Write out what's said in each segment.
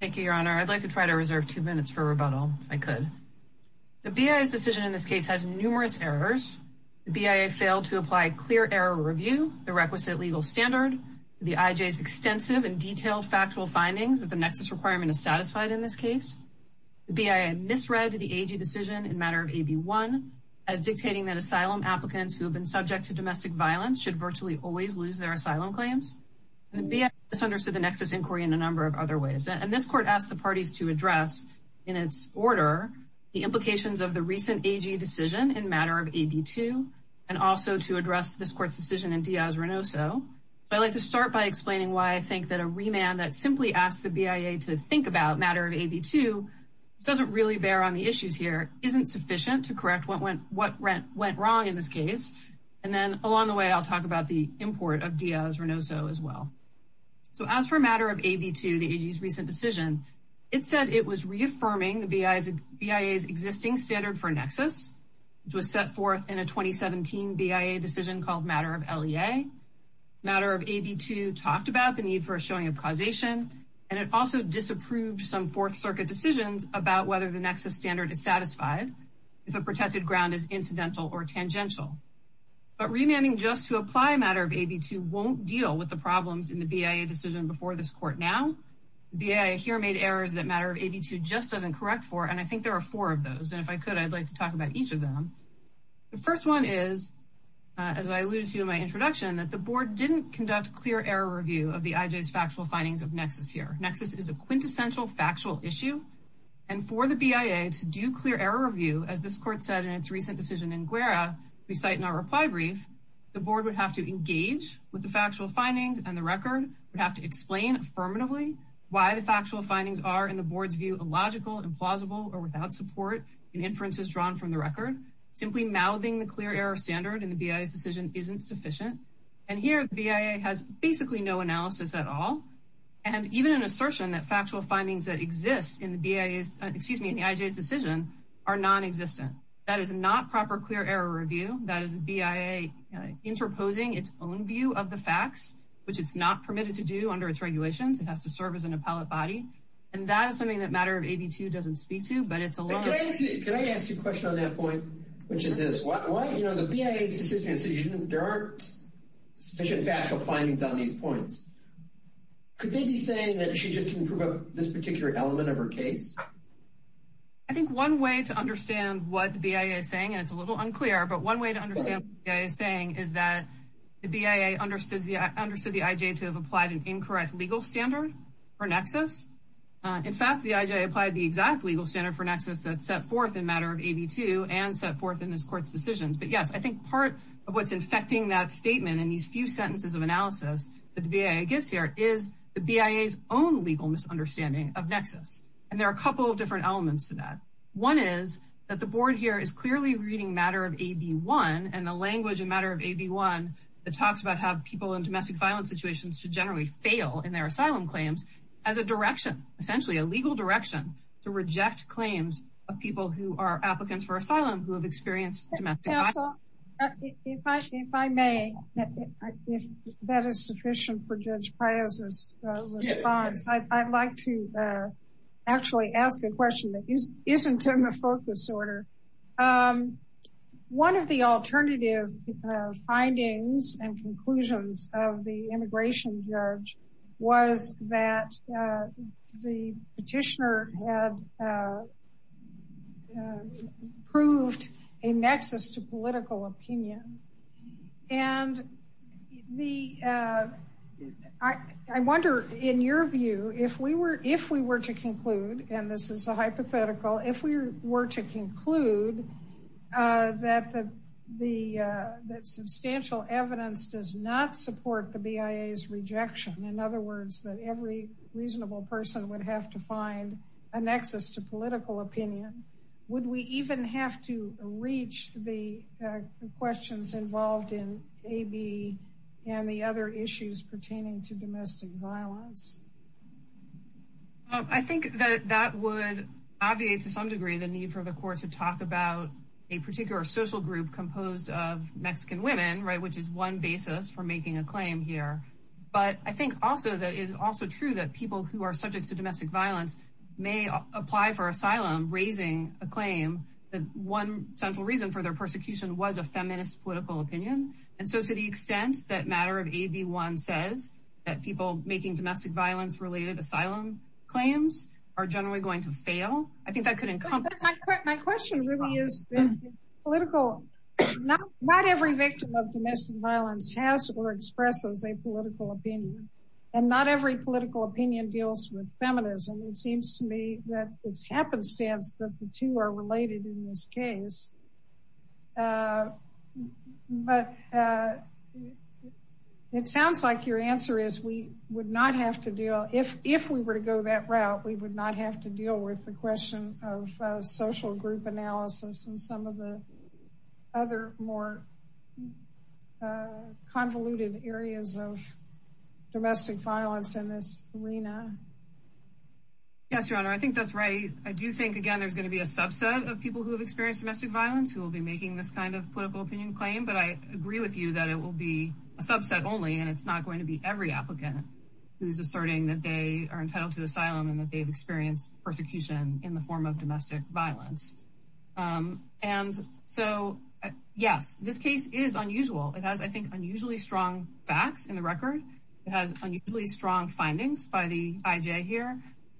Thank you, Your Honor. I'd like to try to reserve two minutes for rebuttal, if I could. The BIA's decision in this case has numerous errors. The BIA failed to apply clear error review, the requisite legal standard, the IJ's extensive and detailed factual findings that the nexus requirement is satisfied in this case. The BIA misread the AG decision in matter of AB 1 as dictating that asylum applicants who have been subject to domestic violence should virtually always lose their asylum claims. The BIA misunderstood the nexus inquiry in a number of other ways. And this court asked the parties to address in its order the implications of the recent AG decision in matter of AB 2 and also to address this court's decision in Diaz-Renoso. I'd like to start by explaining why I think that a remand that simply asked the BIA to think about matter of AB 2 doesn't really bear on the issues here, isn't sufficient to correct what went wrong in this case. And then along the way, I'll talk about the import of Diaz-Renoso as well. So as for matter of AB 2, the AG's recent decision, it said it was reaffirming the BIA's existing standard for nexus, which was set forth in a 2017 BIA decision called matter of LEA. Matter of AB 2 talked about the need for a showing of causation, and it also disapproved some Fourth Circuit decisions about whether the nexus standard is satisfied if a protected ground is incidental or tangential. But remanding just to apply matter of AB 2 won't deal with the problems in the BIA decision before this court. Now, the BIA here made errors that matter of AB 2 just doesn't correct for, and I think there are four of those. And if I could, I'd like to talk about each of them. The first one is, as I alluded to in my introduction, that the board didn't conduct clear error review of the IJ's factual findings of nexus here. Nexus is a quintessential factual issue. And for the BIA to do clear error review, as this court said in its recent decision in Guerra, we cite in our reply brief, the board would have to engage with the factual findings, and the record would have to explain affirmatively why the factual findings are, in the board's view, illogical, implausible, or without support in inferences drawn from the record. Simply mouthing the clear error standard in the BIA's decision isn't sufficient. And here, the BIA has basically no analysis at all. And even an assertion that factual findings that exist in the BIA's, excuse me, in the IJ's decision are nonexistent. That is not proper clear error review. That is the BIA interposing its own view of the facts, which it's not permitted to do under its regulations. It has to serve as an appellate body. And that is something that matter of AB2 doesn't speak to, but it's a long- Can I ask you a question on that point? Which is this, why, you know, the BIA's decision, there aren't sufficient factual findings on these points. Could they be saying that she just didn't prove this particular element of her case? I think one way to understand what the BIA is saying, and it's a little unclear, but one way to understand what the BIA is saying is that the BIA understood the IJ to have applied an incorrect legal standard for nexus. In fact, the IJ applied the exact legal standard for nexus that's set forth in matter of AB2 and set forth in this court's decisions. But yes, I think part of what's infecting that statement in these few sentences of analysis that the BIA gives here is the BIA's own legal misunderstanding of nexus. And there are a couple of different elements to that. One is that the board here is clearly reading matter of AB1 and the language in matter of AB1 that talks about how people in domestic violence situations should generally fail in their asylum claims as a direction, essentially a legal direction, to reject claims of people who are applicants for asylum who have experienced domestic violence. If I may, if that is sufficient for Judge Pios' response, I'd like to actually ask a question that isn't in the focus order. One of the alternative findings and conclusions of the immigration judge was that the petitioner had proved a nexus to political opinion. And I wonder, in your view, if we were to conclude, and this is a hypothetical, if we were to conclude that substantial evidence does not support the BIA's rejection, in other words, that every reasonable person would have to find a nexus to political opinion, would we even have to reach the questions involved in AB and the other issues pertaining to domestic violence? I think that that would obviate to some degree the need for the court to talk about a particular social group composed of Mexican women, right, which is one basis for making a claim here. But I think also that it is also true that people who are subject to domestic violence may apply for asylum, raising a claim that one central reason for their persecution was a feminist political opinion. And so to the extent that matter of AB1 says that people making domestic violence-related asylum claims are generally going to fail, I think that could encompass... My question really is, not every victim of domestic violence and not every political opinion deals with feminism. It seems to me that it's happenstance that the two are related in this case. But it sounds like your answer is we would not have to deal... If we were to go that route, we would not have to deal with the question of social group analysis and some of the other more convoluted areas of domestic violence in this arena. Yes, Your Honor, I think that's right. I do think, again, there's going to be a subset of people who have experienced domestic violence who will be making this kind of political opinion claim. But I agree with you that it will be a subset only, and it's not going to be every applicant who's asserting that they are entitled to asylum and that they've experienced persecution in the form of domestic violence. And so, yes, this case is unusual. It has, I think, unusually strong facts in the record. It has unusually strong findings by the IJ here.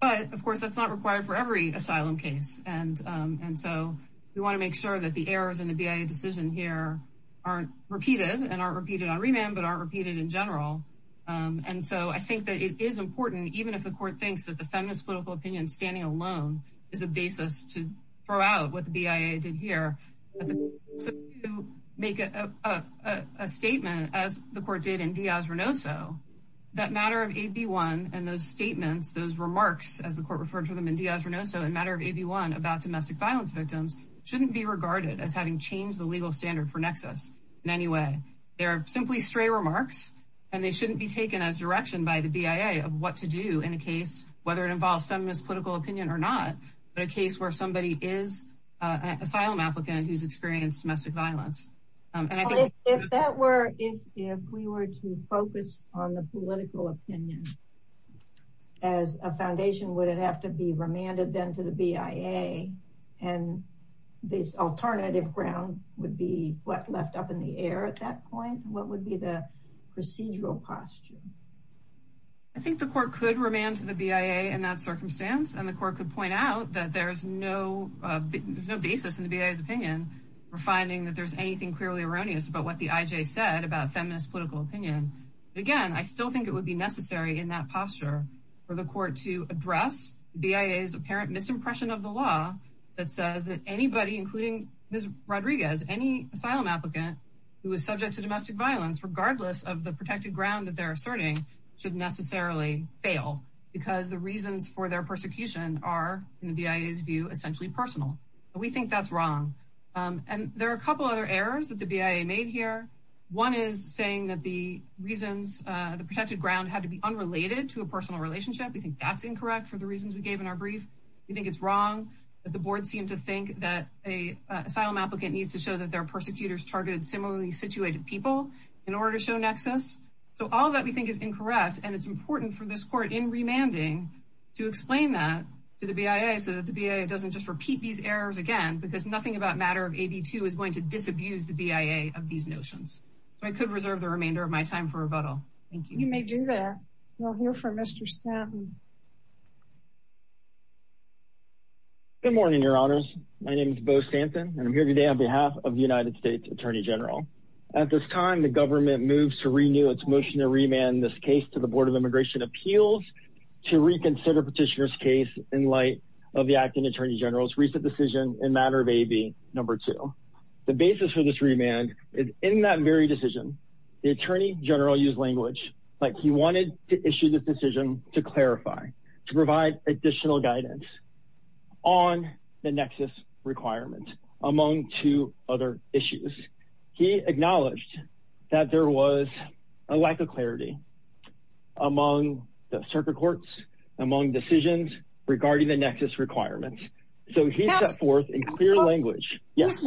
But, of course, that's not required for every asylum case. And so we want to make sure that the errors in the BIA decision here aren't repeated and aren't repeated on remand but aren't repeated in general. And so I think that it is important, even if the court thinks that the feminist political opinion standing alone is a basis to throw out what the BIA did here. So to make a statement, as the court did in Diaz-Renoso, that matter of AB1 and those statements, those remarks, as the court referred to them in Diaz-Renoso in matter of AB1 about domestic violence victims shouldn't be regarded as having changed the legal standard for Nexus in any way. They're simply stray remarks, and they shouldn't be taken as direction by the BIA of what to do in a case, whether it involves feminist political opinion or not, but a case where somebody is an asylum applicant who's experienced domestic violence. And I think- If we were to focus on the political opinion as a foundation, would it have to be remanded then to the BIA? And this alternative ground would be what left up in the air at that point? What would be the procedural posture? I think the court could remand to the BIA in that circumstance, and the court could point out that there's no basis in the BIA's opinion for finding that there's anything clearly erroneous about what the IJ said about feminist political opinion. But again, I still think it would be necessary in that posture for the court to address the BIA's apparent misimpression of the law that says that anybody, including Ms. Rodriguez, any asylum applicant who is subject to domestic violence, regardless of the protected ground that they're asserting, should necessarily fail because the reasons for their persecution are, in the BIA's view, essentially personal. We think that's wrong. And there are a couple other errors that the BIA made here. One is saying that the reasons, the protected ground, had to be unrelated to a personal relationship. We think that's incorrect for the reasons we gave in our brief. We think it's wrong that the board seemed to think that an asylum applicant needs to show that their persecutors targeted similarly-situated people in order to show nexus. So all that we think is incorrect, and it's important for this court, in remanding, to explain that to the BIA so that the BIA doesn't just repeat these errors again because nothing about matter of AB2 is going to disabuse the BIA of these notions. So I could reserve the remainder of my time for rebuttal. Thank you. You may do that. We'll hear from Mr. Stanton. Good morning, Your Honors. My name is Bo Stanton, and I'm here today on behalf of the United States Attorney General. At this time, the government moves to renew its motion to remand this case to the Board of Immigration Appeals to reconsider Petitioner's case in light of the acting Attorney General's recent decision in matter of AB2. The basis for this remand is in that very decision, the Attorney General used language like he wanted to issue this decision to clarify, to provide additional guidance on the nexus requirement among two other issues. He acknowledged that there was a lack of clarity among the circuit courts, among decisions regarding the nexus requirements. So he set forth in clear language. Yes.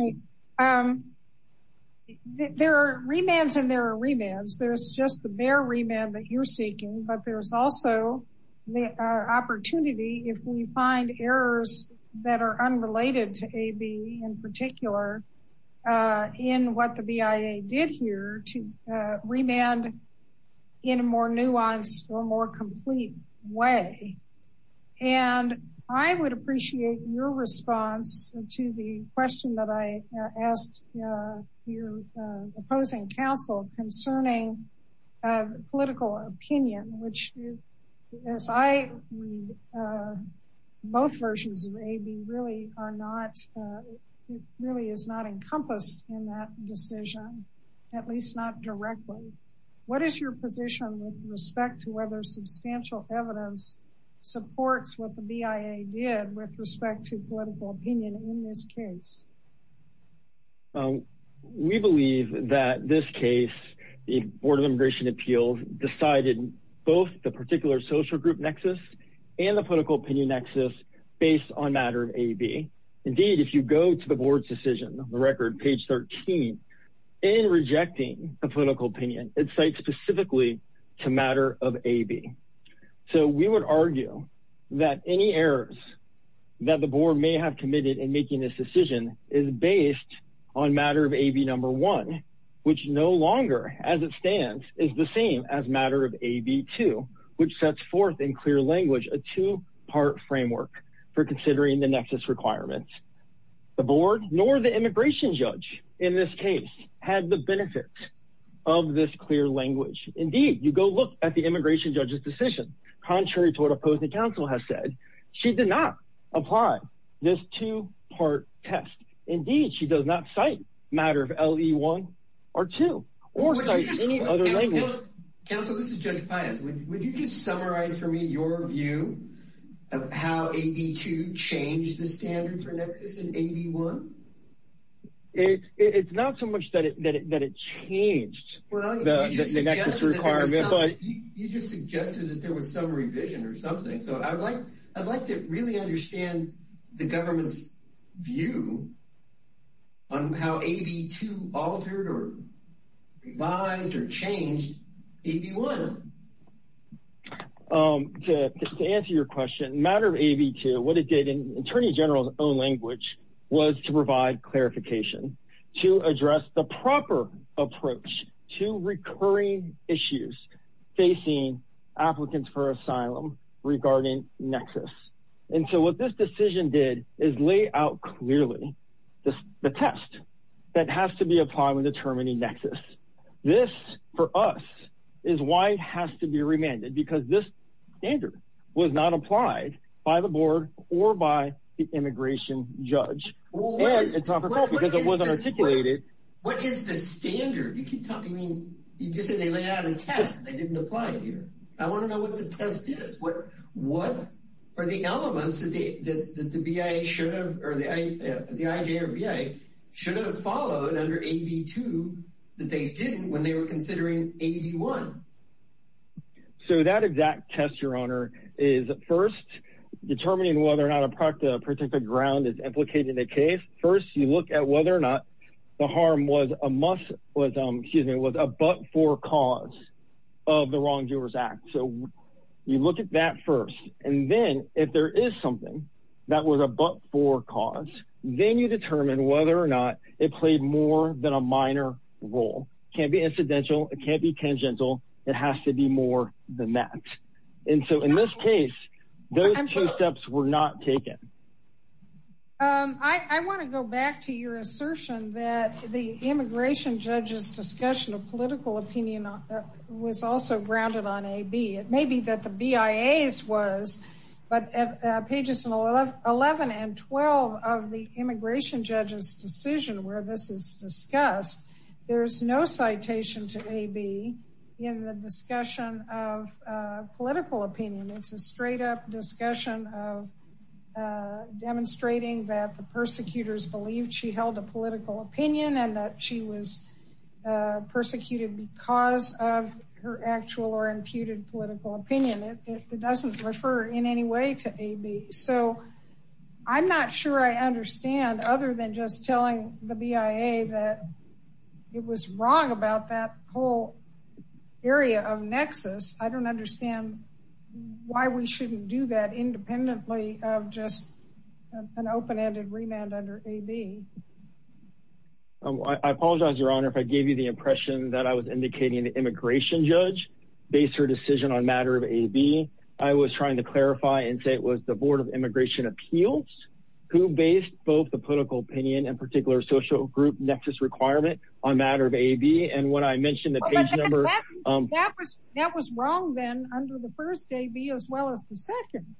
There are remands and there are remands. There's just the bare remand that you're seeking, but there's also the opportunity if we find errors that are unrelated to AB in particular in what the BIA did here to remand in a more nuanced or more complete way. And I would appreciate your response to the question that I asked your opposing counsel concerning political opinion, which as I read both versions of AB really are not, it really is not encompassed in that decision, at least not directly. What is your position with respect to whether substantial evidence supports what the BIA did with respect to political opinion in this case? We believe that this case, the Board of Immigration Appeals decided both the particular social group nexus and the political opinion nexus based on matter of AB. Indeed, if you go to the board's decision, the record page 13 in rejecting a political opinion, it cites specifically to matter of AB. So we would argue that any errors that the board may have committed in making this decision is based on matter of AB number one, which no longer as it stands is the same as matter of AB2, which sets forth in clear language, a two-part framework for considering the nexus requirements. The board nor the immigration judge in this case had the benefits of this clear language. Indeed, you go look at the immigration judge's decision contrary to what opposing counsel has said. She did not apply this two-part test. Indeed, she does not cite matter of LE1 or 2 or cite any other language. Counsel, this is Judge Pius. Would you just summarize for me your view of how AB2 changed the standard for nexus in AB1? It's not so much that it changed the nexus requirement, but you just suggested that there was some revision or something. So I'd like to really understand the government's view on how AB2 altered or revised or changed AB1. To answer your question, matter of AB2, what it did in Attorney General's own language was to provide clarification to address the proper approach to recurring issues facing applicants for asylum regarding nexus. And so what this decision did is lay out clearly the test that has to be applied when determining nexus. This, for us, is why it has to be remanded, because this standard was not applied by the board or by the immigration judge. And it's not because it wasn't articulated. What is the standard? You keep talking. You just said they laid out a test. They didn't apply it here. I want to know what the test is. What are the elements that the BIA should have, or the IJ or BIA should have followed under AB2 that they didn't when they were considering AB1? So that exact test, Your Honor, is first determining whether or not a particular ground is implicated in a case. First, you look at whether or not the harm was a must, was a but-for cause of the Wrongdoers Act. So you look at that first. And then if there is something that was a but-for cause, then you determine whether or not it played more than a minor role. Can't be incidental. It can't be tangential. It has to be more than that. And so in this case, those two steps were not taken. I want to go back to your assertion that the immigration judge's discussion of political opinion was also grounded on AB. It may be that the BIA's was, but at pages 11 and 12 of the immigration judge's decision where this is discussed, there's no citation to AB in the discussion of political opinion. It's a straight-up discussion of demonstrating that the persecutors believed she held a political opinion and that she was persecuted because of her actual or imputed political opinion. It doesn't refer in any way to AB. So I'm not sure I understand, other than just telling the BIA that it was wrong about that whole area of nexus. I don't understand why we shouldn't do that independently of just an open-ended remand under AB. I apologize, Your Honor, if I gave you the impression that I was indicating the immigration judge based her decision on matter of AB. I was trying to clarify and say it was the Board of Immigration Appeals who based both the political opinion and particular social group nexus requirement on matter of AB. And when I mentioned the page number- That was wrong then under the first AB as well as the second.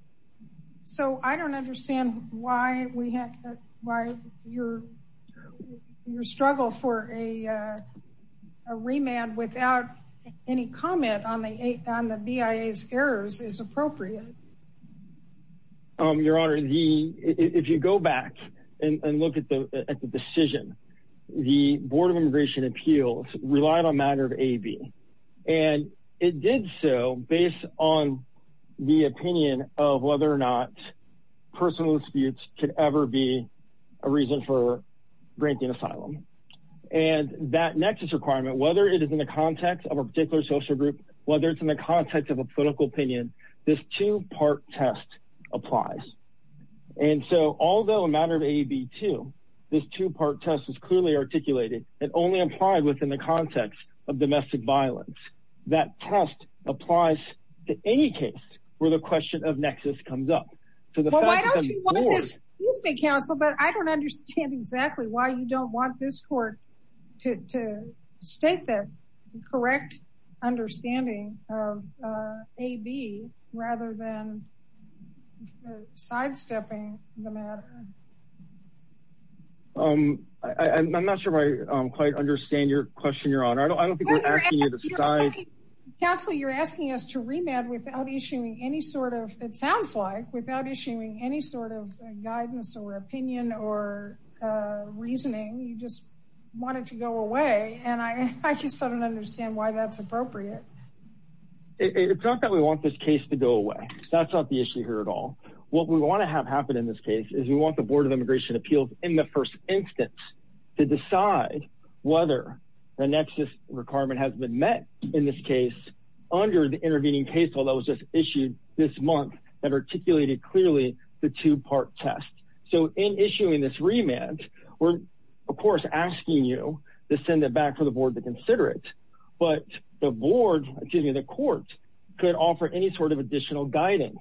So I don't understand why we have, why your struggle for a remand without any comment on the BIA's errors is appropriate. Your Honor, if you go back and look at the decision, the Board of Immigration Appeals relied on matter of AB. And it did so based on the opinion of whether or not personal disputes could ever be a reason for granting asylum. And that nexus requirement, whether it is in the context of a particular social group, whether it's in the context of a political opinion, this two-part test applies. And so although a matter of AB2, this two-part test was clearly articulated and only applied within the context of domestic violence. That test applies to any case where the question of nexus comes up. So the fact that the board- Well, why don't you want to just, excuse me, counsel, but I don't understand exactly why you don't want this court to state the correct understanding of AB rather than sidestepping the matter. I'm not sure if I quite understand your question, Your Honor. I don't think we're asking you to side- Counselor, you're asking us to remand without issuing any sort of, it sounds like, without issuing any sort of guidance or opinion or reasoning. You just want it to go away. And I just don't understand why that's appropriate. It's not that we want this case to go away. That's not the issue here at all. What we want to have happen in this case is we want the Board of Immigration Appeals in the first instance to decide whether the nexus requirement has been met in this case under the intervening case law that was just issued this month that articulated clearly the two-part test. So in issuing this remand, we're, of course, asking you to send it back for the board to consider it, but the board, excuse me, the court could offer any sort of additional guidance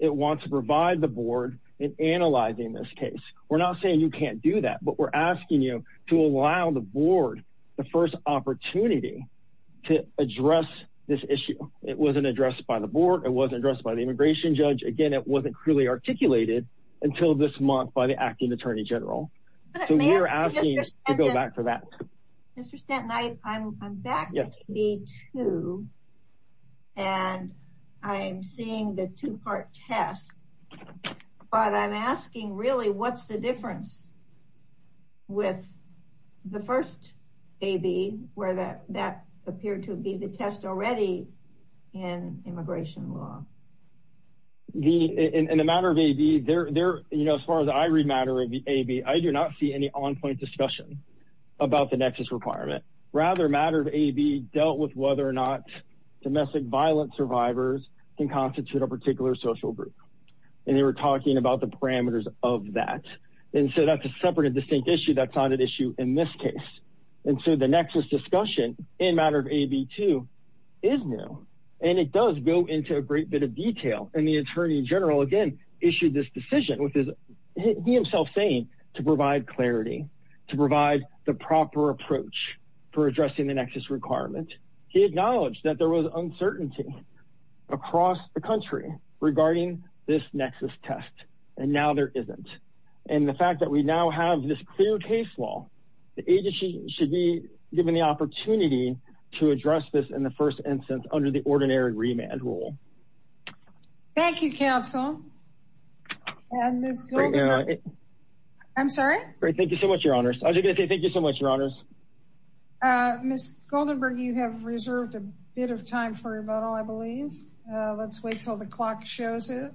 it wants to provide the board in analyzing this case. We're not saying you can't do that, but we're asking you to allow the board the first opportunity to address this issue. It wasn't addressed by the board. It wasn't addressed by the immigration judge. Again, it wasn't clearly articulated until this month by the acting attorney general. So we're asking you to go back for that. Mr. Stanton, I'm back with you, too, and I'm seeing the two-part test, but I'm asking, really, what's the difference with the first AB, where that appeared to be the test already in immigration law? In the matter of AB, as far as I read matter of AB, I do not see any on-point discussion about the nexus requirement. Rather, matter of AB dealt with whether or not domestic violence survivors can constitute a particular social group, and they were talking about the parameters of that. And so that's a separate and distinct issue that's not an issue in this case. And so the nexus discussion in matter of AB, too, is new, and it does go into a great bit of detail. And the attorney general, again, issued this decision with his — he himself saying to provide clarity, to provide the proper approach for addressing the nexus requirement. He acknowledged that there was uncertainty across the country regarding this nexus test, and now there isn't. And the fact that we now have this clear case law, the agency should be given the opportunity to address this in the first instance under the ordinary remand rule. Thank you, counsel. And Ms. Goldenberg — Right now — I'm sorry? Great. Thank you so much, Your Honors. I was going to say thank you so much, Your Honors. Ms. Goldenberg, you have reserved a bit of time for rebuttal, I believe. Let's wait until the clock shows it.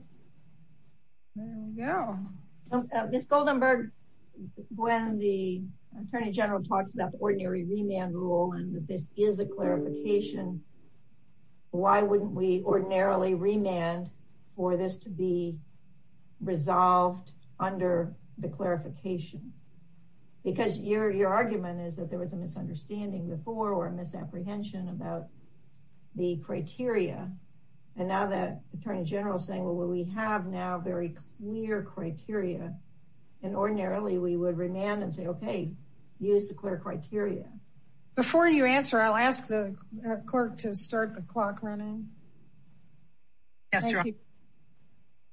There we go. Ms. Goldenberg, when the attorney general talks about the ordinary remand rule and that this is a clarification, why wouldn't we ordinarily remand for this to be resolved under the clarification? Because your argument is that there was a misunderstanding before or a misapprehension about the criteria, and now that attorney general is saying, well, we have now very clear criteria, and ordinarily we would remand and say, okay, use the clear criteria. Before you answer, I'll ask the clerk to start the clock running. Yes, Your Honor.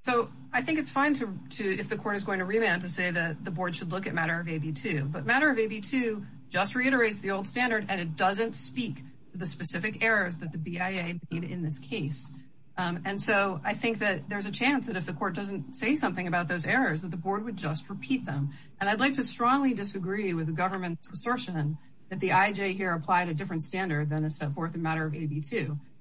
So I think it's fine if the court is going to remand to say that the board should look at matter of AB2. But matter of AB2 just reiterates the old standard, and it doesn't speak to the specific errors that the BIA made in this case. And so I think that there's a chance that if the court doesn't say something about those errors, that the board would just repeat them. And I'd like to strongly disagree with the government's assertion that the IJ here applied a different standard than is set forth in matter of AB2.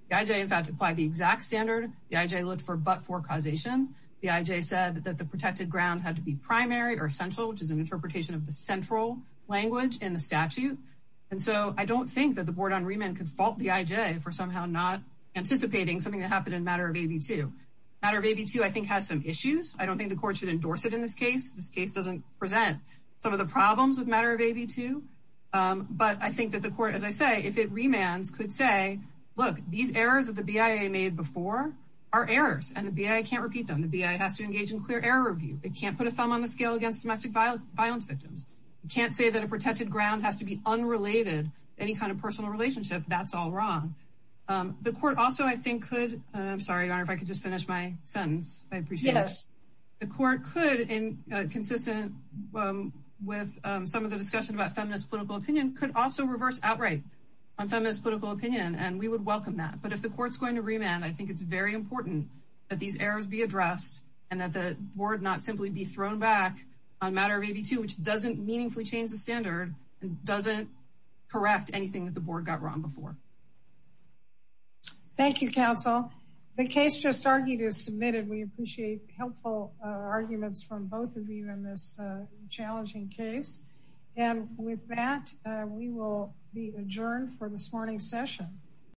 The IJ, in fact, applied the exact standard. The IJ looked for but-for causation. The IJ said that the protected ground had to be primary or central, which is an interpretation of the central language in the statute. And so I don't think that the board on remand could fault the IJ for somehow not anticipating something that happened in matter of AB2. Matter of AB2, I think, has some issues. I don't think the court should endorse it in this case. This case doesn't present some of the problems with matter of AB2. But I think that the court, as I say, if it remands, could say, look, these errors that the BIA made before are errors, and the BIA can't repeat them. The BIA has to engage in clear error review. It can't put a thumb on the scale against domestic violence victims. It can't say that a protected ground has to be unrelated to any kind of personal relationship. That's all wrong. The court also, I think, could, and I'm sorry, Your Honor, if I could just finish my sentence. I appreciate this. The court could, consistent with some of the discussion about feminist political opinion, could also reverse outright on feminist political opinion, and we would welcome that. But if the court's going to remand, I think it's very important that these errors be addressed and that the board not simply be thrown back on matter of AB2, which doesn't meaningfully change the standard and doesn't correct anything that the board got wrong before. Thank you, counsel. The case just argued is submitted. We appreciate helpful arguments from both of you in this challenging case. And with that, we will be adjourned for this morning's session.